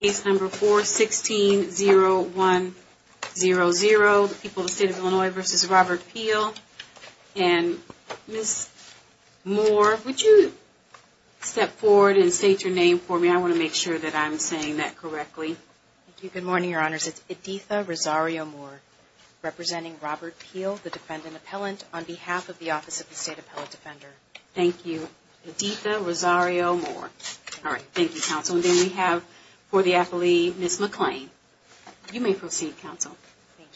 Case number 4-16-01-00, the people of the state of Illinois v. Robert Peel. And Ms. Moore, would you step forward and state your name for me? I want to make sure that I'm saying that correctly. Thank you. Good morning, Your Honors. It's Editha Rosario-Moore, representing Robert Peel, the defendant appellant, on behalf of the Office of the State Appellate Defender. Thank you. Editha Rosario-Moore. All right. Thank you, Counsel. And then we have for the appellee, Ms. McClain. You may proceed, Counsel. Thank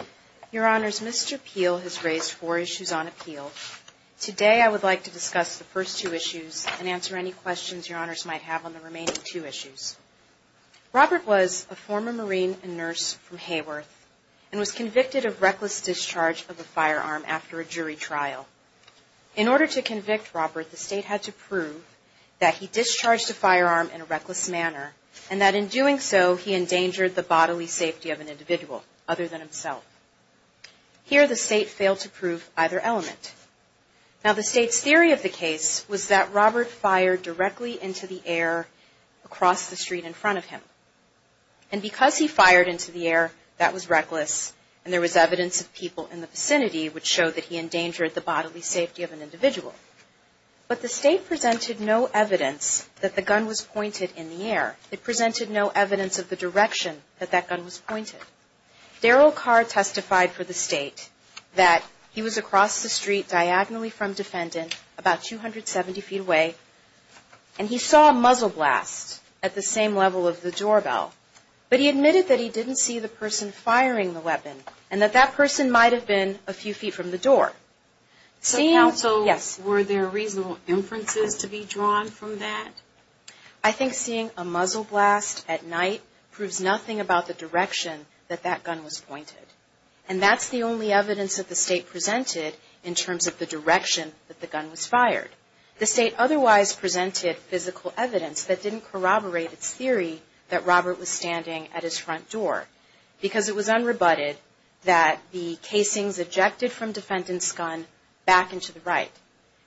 you. Your Honors, Mr. Peel has raised four issues on appeal. Today, I would like to discuss the first two issues and answer any questions Your Honors might have on the remaining two issues. Robert was a former Marine and nurse from Hayworth and was convicted of reckless discharge of a firearm after a jury trial. In order to convict Robert, the state had to prove that he discharged a firearm in a reckless manner and that in doing so, he endangered the bodily safety of an individual other than himself. Here, the state failed to prove either element. Now, the state's theory of the case was that Robert fired directly into the air across the street in front of him. And because he fired into the air, that was reckless and there was evidence of people in the vicinity which showed that he endangered the bodily safety of an individual. But the state presented no evidence that the gun was pointed in the air. It presented no evidence of the direction that that gun was pointed. Daryl Carr testified for the state that he was across the street diagonally from defendant, about 270 feet away, and he saw a muzzle blast at the same level of the doorbell. But he admitted that he didn't see the person firing the weapon and that that person might have been a few feet from the door. So counsel, were there reasonable inferences to be drawn from that? I think seeing a muzzle blast at night proves nothing about the direction that that gun was pointed. And that's the only evidence that the state presented in terms of the direction that the gun was fired. The state otherwise presented physical evidence that didn't corroborate its theory that Robert was standing at his front door. Because it was unrebutted that the casings ejected from defendant's gun back into the right.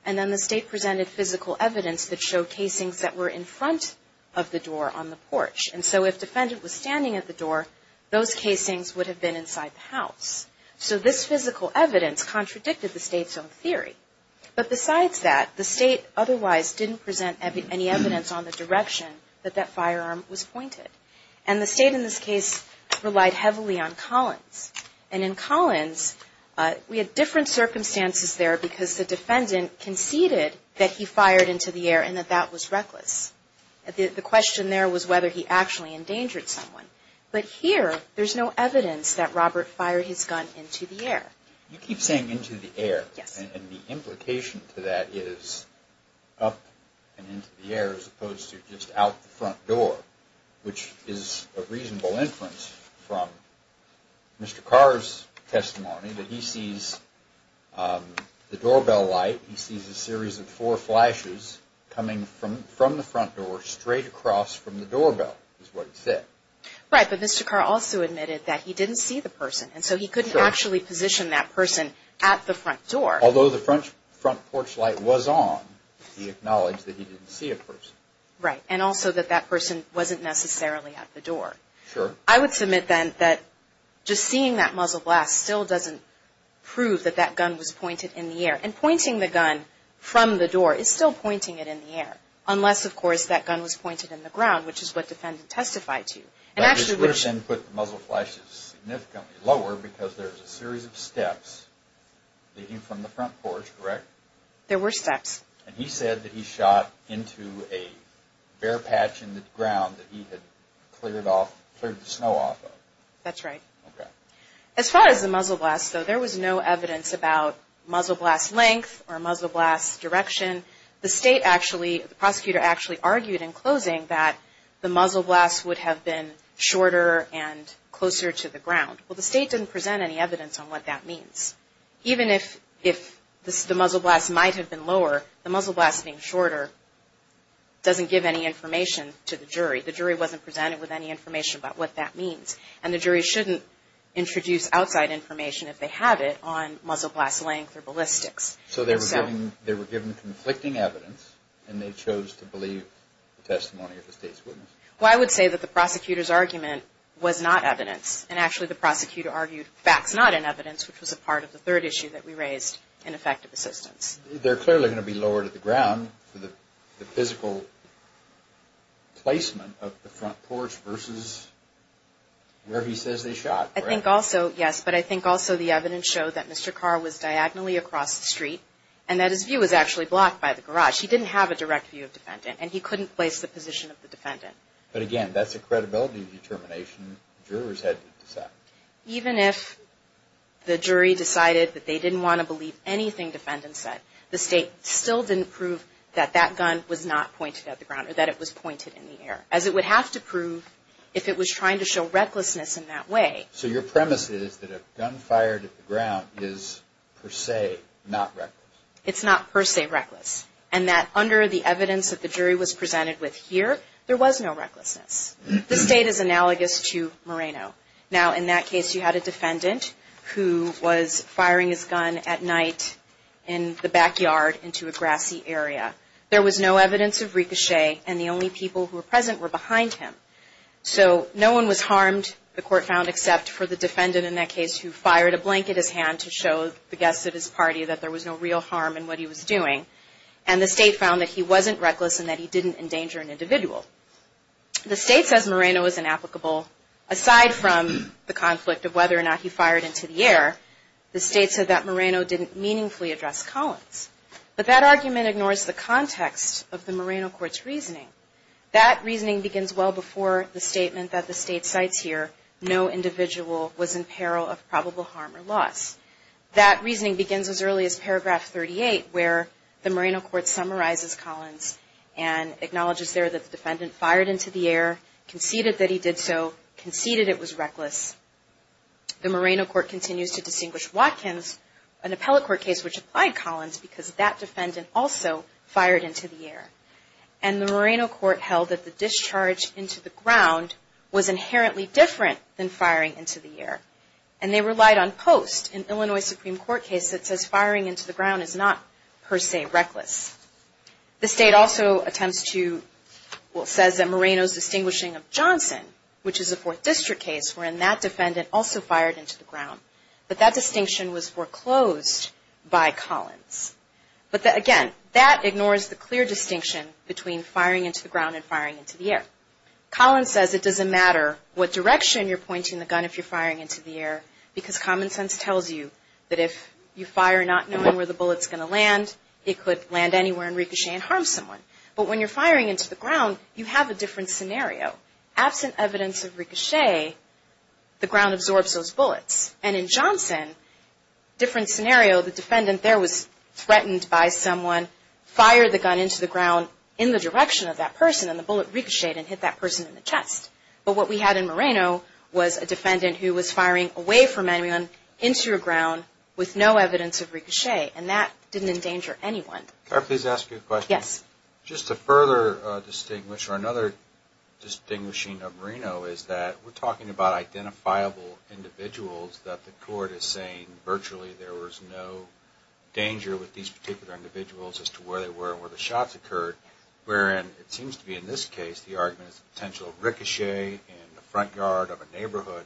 And then the state presented physical evidence that showed casings that were in front of the door on the porch. And so if defendant was standing at the door, those casings would have been inside the house. So this physical evidence contradicted the state's own theory. But besides that, the state otherwise didn't present any evidence on the direction that that firearm was pointed. And the state in this case relied heavily on Collins. And in Collins, we had different circumstances there because the defendant conceded that he fired into the air and that that was reckless. The question there was whether he actually endangered someone. But here, there's no evidence that Robert fired his gun into the air. You keep saying into the air, and the implication to that is up and into the air as opposed to just out the front door, which is a reasonable inference from Mr. Carr's testimony that he sees the doorbell light. He sees a series of four flashes coming from from the front door straight across from the doorbell is what he said. Right. But Mr. Carr also admitted that he didn't see the person. And so he couldn't actually position that person at the front door. Although the front porch light was on, he acknowledged that he didn't see a person. Right. And also that that person wasn't necessarily at the door. Sure. I would submit then that just seeing that muzzle blast still doesn't prove that that gun was pointed in the air. And pointing the gun from the door is still pointing it in the air. Unless, of course, that gun was pointed in the ground, which is what defendant testified to. But this would have then put the muzzle flashes significantly lower because there's a series of steps leading from the front porch, correct? There were steps. And he said that he shot into a bare patch in the ground that he had cleared off, cleared the snow off of. That's right. As far as the muzzle blast, though, there was no evidence about muzzle blast length or muzzle blast direction. The state actually, the prosecutor actually argued in closing that the muzzle blast would have been shorter and closer to the ground. Well, the state didn't present any evidence on what that means. Even if the muzzle blast might have been lower, the muzzle blast being shorter doesn't give any information to the jury. The jury wasn't presented with any information about what that means. And the jury shouldn't introduce outside information if they have it on muzzle blast length or ballistics. So they were given conflicting evidence, and they chose to believe the testimony of the state's witness. Well, I would say that the prosecutor's argument was not evidence. And actually, the prosecutor argued facts not in evidence, which was a part of the third issue that we raised in effective assistance. They're clearly going to be lower to the ground for the physical placement of the front porch versus where he says they shot, correct? I think also, yes, but I think also the evidence showed that Mr. Carr was diagonally across the street and that his view was actually blocked by the garage. He didn't have a direct view of defendant, and he couldn't place the position of the defendant. But again, that's a credibility determination jurors had to decide. Even if the jury decided that they didn't want to believe anything defendant said, the state still didn't prove that that gun was not pointed at the ground or that it was pointed in the air, as it would have to prove if it was trying to show recklessness in that way. So your premise is that a gun fired at the ground is per se not reckless? It's not per se reckless. And that under the evidence that the jury was presented with here, there was no recklessness. The state is analogous to Moreno. Now, in that case, you had a defendant who was firing his gun at night in the backyard into a grassy area. There was no evidence of ricochet, and the only people who were present were behind him. So no one was harmed, the court found, except for the defendant in that case who fired a blanket at his hand to show the guests at his party that there was no real harm in what he was doing. And the state found that he wasn't reckless and that he didn't endanger an individual. The state says Moreno is inapplicable. Aside from the conflict of whether or not he fired into the air, the state said that Moreno didn't meaningfully address Collins. But that argument ignores the context of the Moreno court's reasoning. That reasoning begins well before the statement that the state cites here, no individual was in peril of probable harm or loss. That reasoning begins as early as paragraph 38, where the Moreno court summarizes Collins and acknowledges there that the defendant fired into the air, conceded that he did so, conceded it was reckless. The Moreno court continues to distinguish Watkins, an appellate court case which applied Collins, because that defendant also fired into the air. And the Moreno court held that the discharge into the ground was inherently different than firing into the air. And they relied on post. In Illinois Supreme Court case, it says firing into the ground is not per se reckless. The state also attempts to, well says that Moreno's distinguishing of Johnson, which is a fourth district case, wherein that defendant also fired into the ground. But that distinction was foreclosed by Collins. But again, that ignores the clear distinction between firing into the ground and firing into the air. Collins says it doesn't matter what direction you're pointing the gun if you're firing into the air, because common sense tells you that if you fire not knowing where the bullet's going to land, it could land anywhere and ricochet and harm someone. But when you're firing into the ground, you have a different scenario. Absent evidence of ricochet, the ground absorbs those bullets. And in Johnson, different scenario, the defendant there was threatened by someone, fired the gun into the ground in the direction of that person, and the bullet ricocheted and hit that person in the chest. But what we had in Moreno was a defendant who was firing away from anyone, into a ground with no evidence of ricochet. And that didn't endanger anyone. Can I please ask you a question? Yes. Just to further distinguish, or another distinguishing of Moreno is that we're talking about identifiable individuals that the court is saying virtually there was no danger with these particular individuals as to where they were and where the shots occurred, wherein it seems to be in this case the argument is potential ricochet in the front yard of a neighborhood.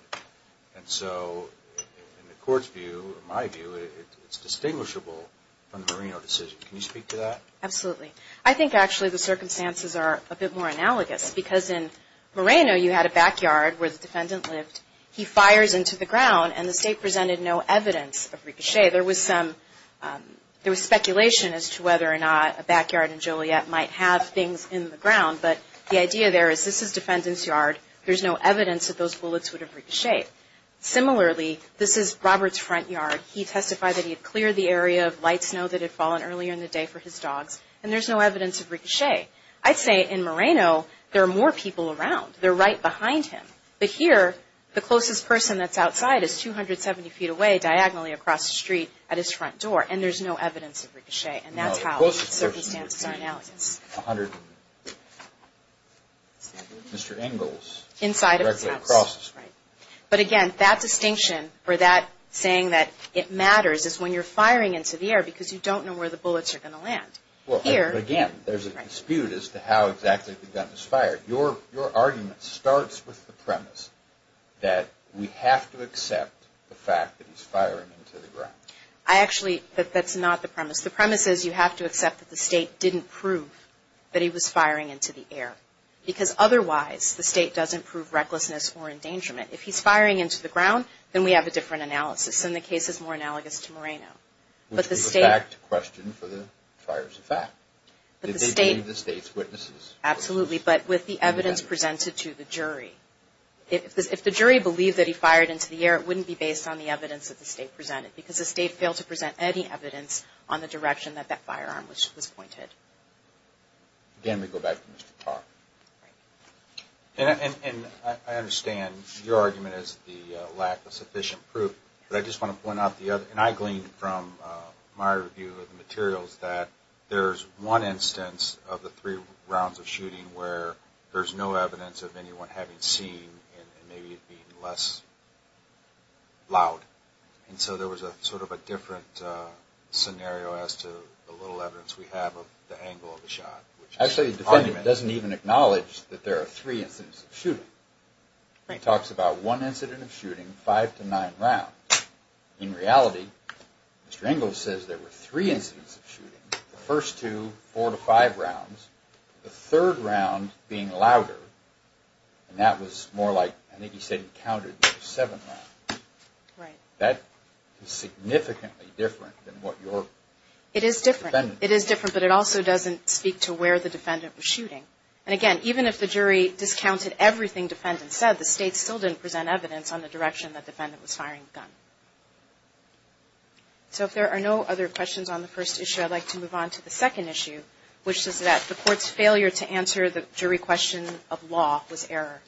And so in the court's view, my view, it's distinguishable from the Moreno decision. Can you speak to that? Absolutely. I think actually the circumstances are a bit more analogous, because in Moreno you had a backyard where the defendant lived. He fires into the ground and the state presented no evidence of ricochet. There was some, there was speculation as to whether or not a backyard in Juliet might have things in the ground, but the idea there is this is defendant's yard. There's no evidence that those bullets would have ricocheted. Similarly, this is Robert's front yard. He testified that he had cleared the area of light snow that had fallen earlier in the day for his dogs, and there's no evidence of ricochet. I'd say in Moreno there are more people around. They're right behind him. But here, the closest person that's outside is 270 feet away, diagonally across the street at his front door, and there's no evidence of ricochet. And that's how the circumstances are analogous. Mr. Engels. Inside of his house. Directly across. Right. But again, that distinction or that saying that it matters is when you're firing into the air, because you don't know where the bullets are going to land. Here. But again, there's a dispute as to how exactly the gun was fired. Your argument starts with the premise that we have to accept the fact that he's firing into the ground. Actually, that's not the premise. The premise is you have to accept that the State didn't prove that he was firing into the air, because otherwise the State doesn't prove recklessness or endangerment. If he's firing into the ground, then we have a different analysis, and the case is more analogous to Moreno. Which would be a fact question for the fires of fact. Did they believe the State's witnesses? Absolutely, but with the evidence presented to the jury. If the jury believed that he fired into the air, it wouldn't be based on the evidence that the State presented, because the State failed to present any evidence on the direction that that firearm was pointed. Again, we go back to Mr. Tarr. And I understand your argument is the lack of sufficient proof, but I just want to point out the other. And I gleaned from my review of the materials that there's one instance of the three rounds of shooting where there's no evidence of anyone having seen, and maybe it being less loud. And so there was sort of a different scenario as to the little evidence we have of the angle of the shot. Actually, the defendant doesn't even acknowledge that there are three incidents of shooting. He talks about one incident of shooting, five to nine rounds. In reality, Mr. Ingalls says there were three incidents of shooting. The first two, four to five rounds. The third round being louder, and that was more like, I think he said he counted seven rounds. Right. That is significantly different than what your... It is different. ...defendant... It is different, but it also doesn't speak to where the defendant was shooting. And again, even if the jury discounted everything defendant said, the State still didn't present evidence on the direction the defendant was firing the gun. So if there are no other questions on the first issue, I'd like to move on to the second issue, which is that the court's failure to answer the jury question of law was error.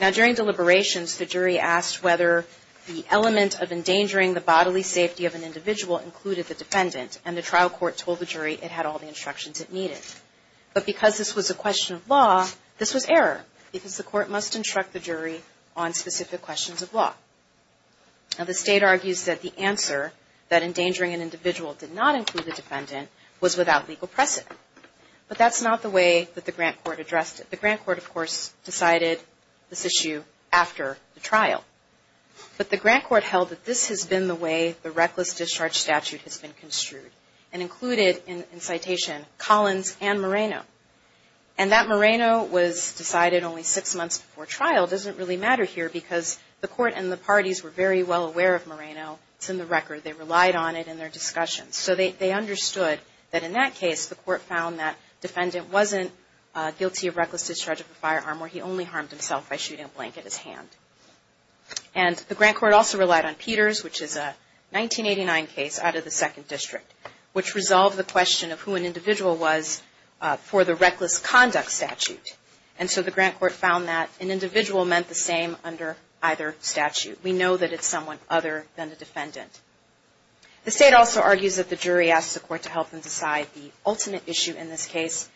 Now, during deliberations, the jury asked whether the element of endangering the bodily safety of an individual included the defendant, and the trial court told the jury it had all the instructions it needed. But because this was a question of law, this was error because the court must instruct the jury on specific questions of law. Now, the State argues that the answer that endangering an individual did not include the defendant was without legal precedent. But that's not the way that the grant court addressed it. The grant court, of course, decided this issue after the trial. But the grant court held that this has been the way the reckless discharge statute has been construed and included in citation Collins and Moreno. And that Moreno was decided only six months before trial doesn't really matter here because the court and the parties were very well aware of Moreno. It's in the record. They relied on it in their discussions. So they understood that in that case, the court found that the defendant wasn't guilty of reckless discharge of a firearm where he only harmed himself by shooting a blank at his hand. And the grant court also relied on Peters, which is a 1989 case out of the Second District, which resolved the question of who an individual was for the reckless conduct statute. And so the grant court found that an individual meant the same under either statute. We know that it's someone other than a defendant. The State also argues that the jury asked the court to help them decide the ultimate issue in this case.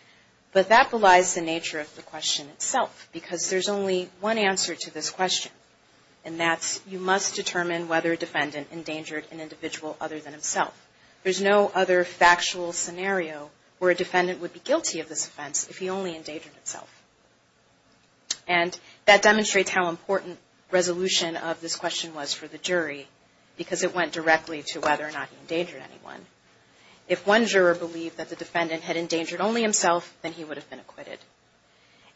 But that belies the nature of the question itself because there's only one answer to this question. And that's you must determine whether a defendant endangered an individual other than himself. There's no other factual scenario where a defendant would be guilty of this offense if he only endangered himself. And that demonstrates how important resolution of this question was for the jury because it went directly to whether or not he endangered anyone. If one juror believed that the defendant had endangered only himself, then he would have been acquitted.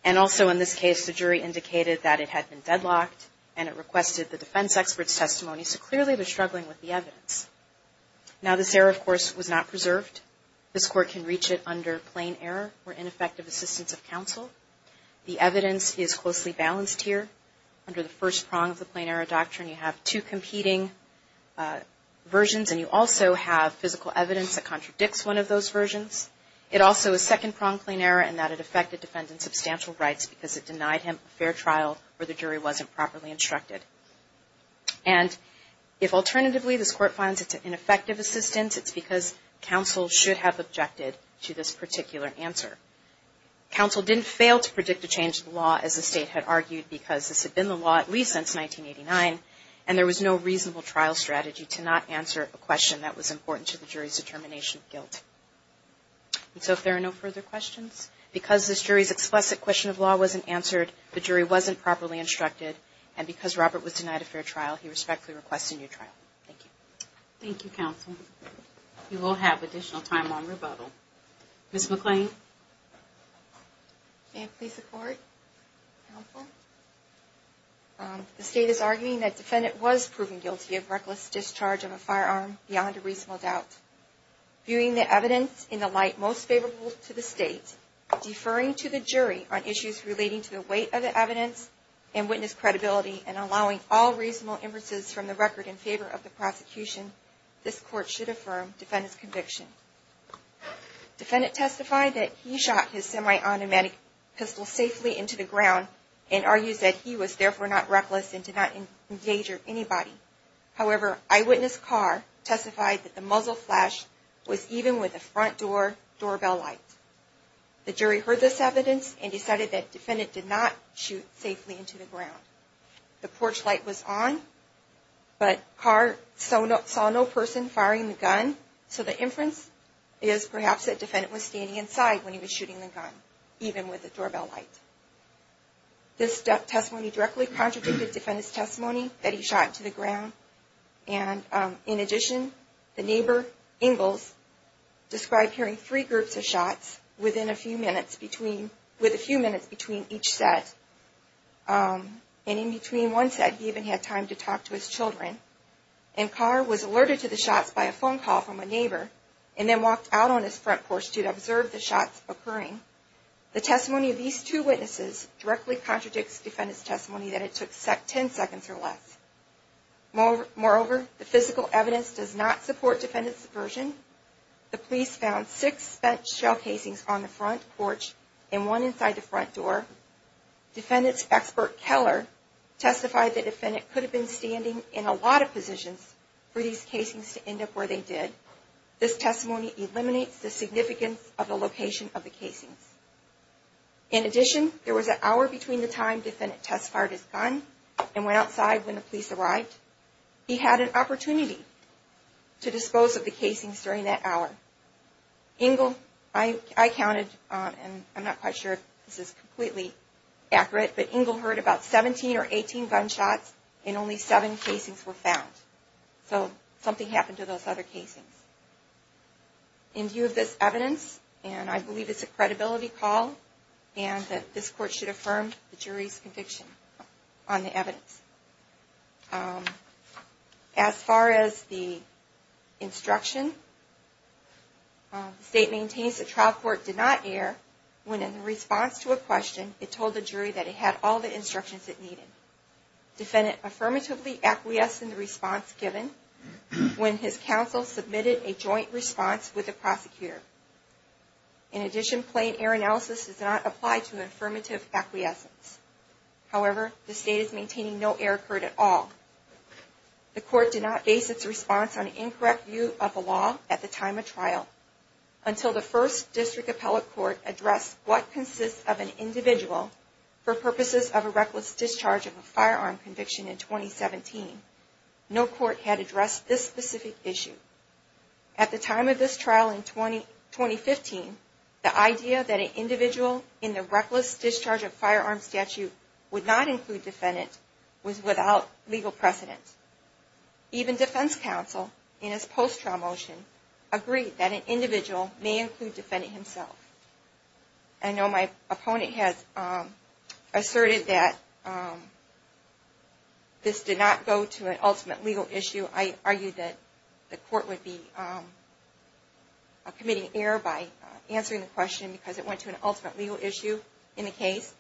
And also in this case, the jury indicated that it had been deadlocked and it requested the defense expert's testimony, so clearly it was struggling with the evidence. Now this error, of course, was not preserved. This court can reach it under plain error or ineffective assistance of counsel. The evidence is closely balanced here. Under the first prong of the plain error doctrine you have two competing versions and you also have the defendant's substantial rights because it denied him a fair trial or the jury wasn't properly instructed. And if alternatively this court finds it's an ineffective assistance, it's because counsel should have objected to this particular answer. Counsel didn't fail to predict a change in the law as the state had argued because this had been the law at least since 1989 and there was no reasonable trial strategy to not answer a question that was important to the jury's determination of guilt. And so if there are no further questions, because this jury's explicit question of law wasn't answered, the jury wasn't properly instructed, and because Robert was denied a fair trial, he respectfully requests a new trial. Thank you. Thank you, counsel. You will have additional time on rebuttal. Ms. McClain? May it please the court? Counsel? The state is arguing that the defendant was proven guilty of reckless discharge of a firearm beyond a reasonable doubt. Viewing the evidence in the light most favorable to the state, deferring to the jury on issues relating to the weight of the evidence and witness credibility and allowing all reasonable inferences from the record in favor of the prosecution, this court should affirm defendant's conviction. Defendant testified that he shot his semi-automatic pistol safely into the ground and argues that he was therefore not reckless and did not engage or anybody. However, eyewitness Carr testified that the muzzle flash was even with the front door doorbell light. The jury heard this evidence and decided that defendant did not shoot safely into the ground. The porch light was on, but Carr saw no person firing the gun, so the inference is perhaps that defendant was standing inside when he was shooting the gun, even with the doorbell light. shot into the ground and did not engage. In addition, the neighbor Engels described hearing three groups of shots within a few minutes between each set. In between one set, he even had time to talk to his children. Carr was alerted to the shots by a phone call from a neighbor and then walked out on his front porch to observe the shots occurring. The testimony of these two witnesses directly contradicts defendant's testimony that it took 10 seconds or less. Moreover, the physical evidence does not support defendant's version. The police found six spent shell casings on the front porch and one inside the front door. Defendant's expert Keller testified that defendant could have been standing in a lot of positions for these casings to end up where they did. This testimony eliminates the significance of the location of the casings. In addition, there was an hour between the time defendant test fired his gun and the time police arrived. He had an opportunity to dispose of the casings during that hour. Engel, I counted, and I'm not quite sure if this is completely accurate, but Engel heard about 17 or 18 gunshots and only seven casings were found. So something happened to those other casings. In view of this evidence, and I believe it's a credibility call, as far as the instruction, the State maintains that trial court did not err when, in response to a question, it told the jury that it had all the instructions it needed. Defendant affirmatively acquiesced in the response given when his counsel submitted a joint response with the prosecutor. In addition, plain error analysis does not apply to an affirmative acquiescence. However, the State is maintaining no error occurred at all. The court did not base its response on an incorrect view of the law at the time of trial until the first district appellate court addressed what consists of an individual for purposes of a reckless discharge of a firearm conviction in 2017. No court had addressed this specific issue. At the time of this trial in 2015, the idea that an individual in the statute would not include defendant was without legal precedent. Even defense counsel in his post-trial motion agreed that an individual may include defendant himself. I know my opponent has asserted that this did not go to an ultimate legal issue. I argued that the court would be committing error by answering the question because it went to an ultimate legal issue in the case.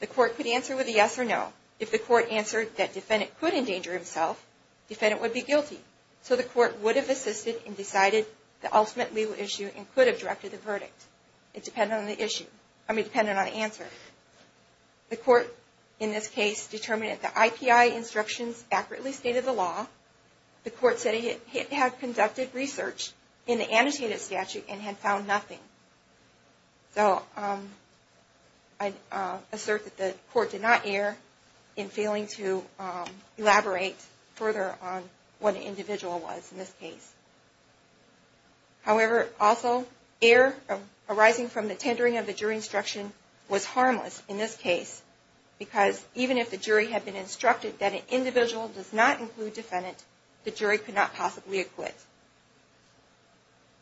The court could answer with a yes or no. If the court answered that defendant could endanger himself, defendant would be guilty. So the court would have assisted and decided the ultimate legal issue and could have directed the verdict. It depended on the answer. The court in this case determined that the IPI instructions accurately stated the law. The court said it had conducted research in the annotated statute and had found nothing. So I assert that the court did not err in failing to elaborate further on what an individual was in this case. However, also error arising from the tendering of the jury instruction was harmless in this case because even if the jury had been instructed that an individual does not include defendant, the jury could not possibly acquit.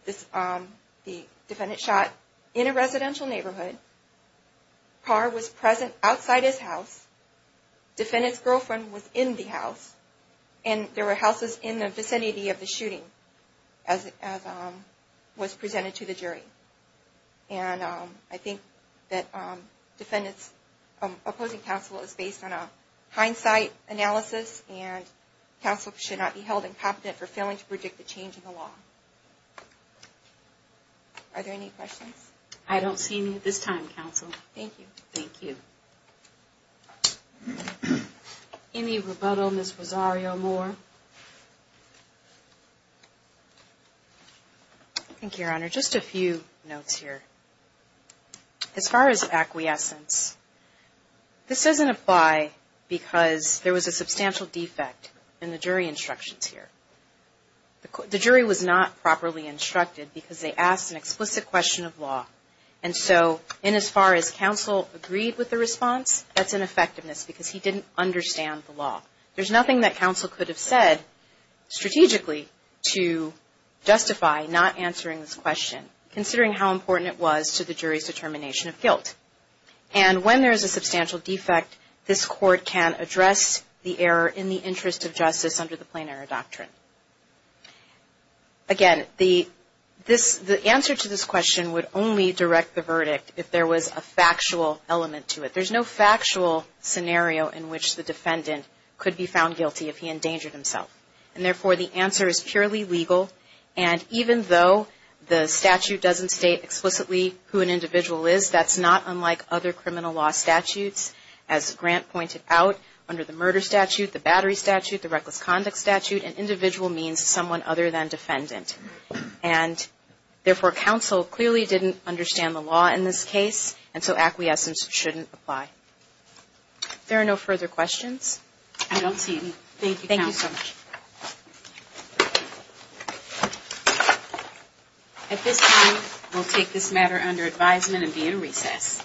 The defendant shot in a residential neighborhood, car was present outside his house, defendant's girlfriend was in the house, and there were houses in the vicinity of the shooting as was presented to the jury. And I think that defendant's opposing counsel is based on a hindsight analysis and counsel should not be held incompetent for failing to predict the change in the law. Are there any questions? I don't see any at this time, counsel. Thank you. Any rebuttal, Ms. Rosario-Moore? Thank you, Your Honor. Just a few notes here. As far as acquiescence, this doesn't apply because there was a substantial defect in the jury instructions here. The jury was not properly instructed because they asked an explicit question of law, and so in as far as counsel agreed with the response, that's ineffectiveness because he didn't understand the law. There's nothing that counsel could have said strategically to justify not answering this question, considering how important it was to the jury's determination of guilt. And when there's a substantial defect, this court can address the error in the interest of justice under the Plain Error Doctrine. Again, the answer to this question would only direct the verdict if there was a factual element to it. There's no factual scenario in which the defendant could be found guilty if he endangered himself, and therefore the answer is purely legal, and even though the statute doesn't state explicitly who an individual is, that's not unlike other criminal law statutes. As Grant pointed out, under the Murder Statute, the Battery Statute, the Reckless Conduct Statute, an individual means someone other than defendant, and therefore counsel clearly didn't understand the law in this case, and so acquiescence shouldn't apply. If there are no further questions... Thank you so much. At this time, we'll take this matter under advisement and be in recess.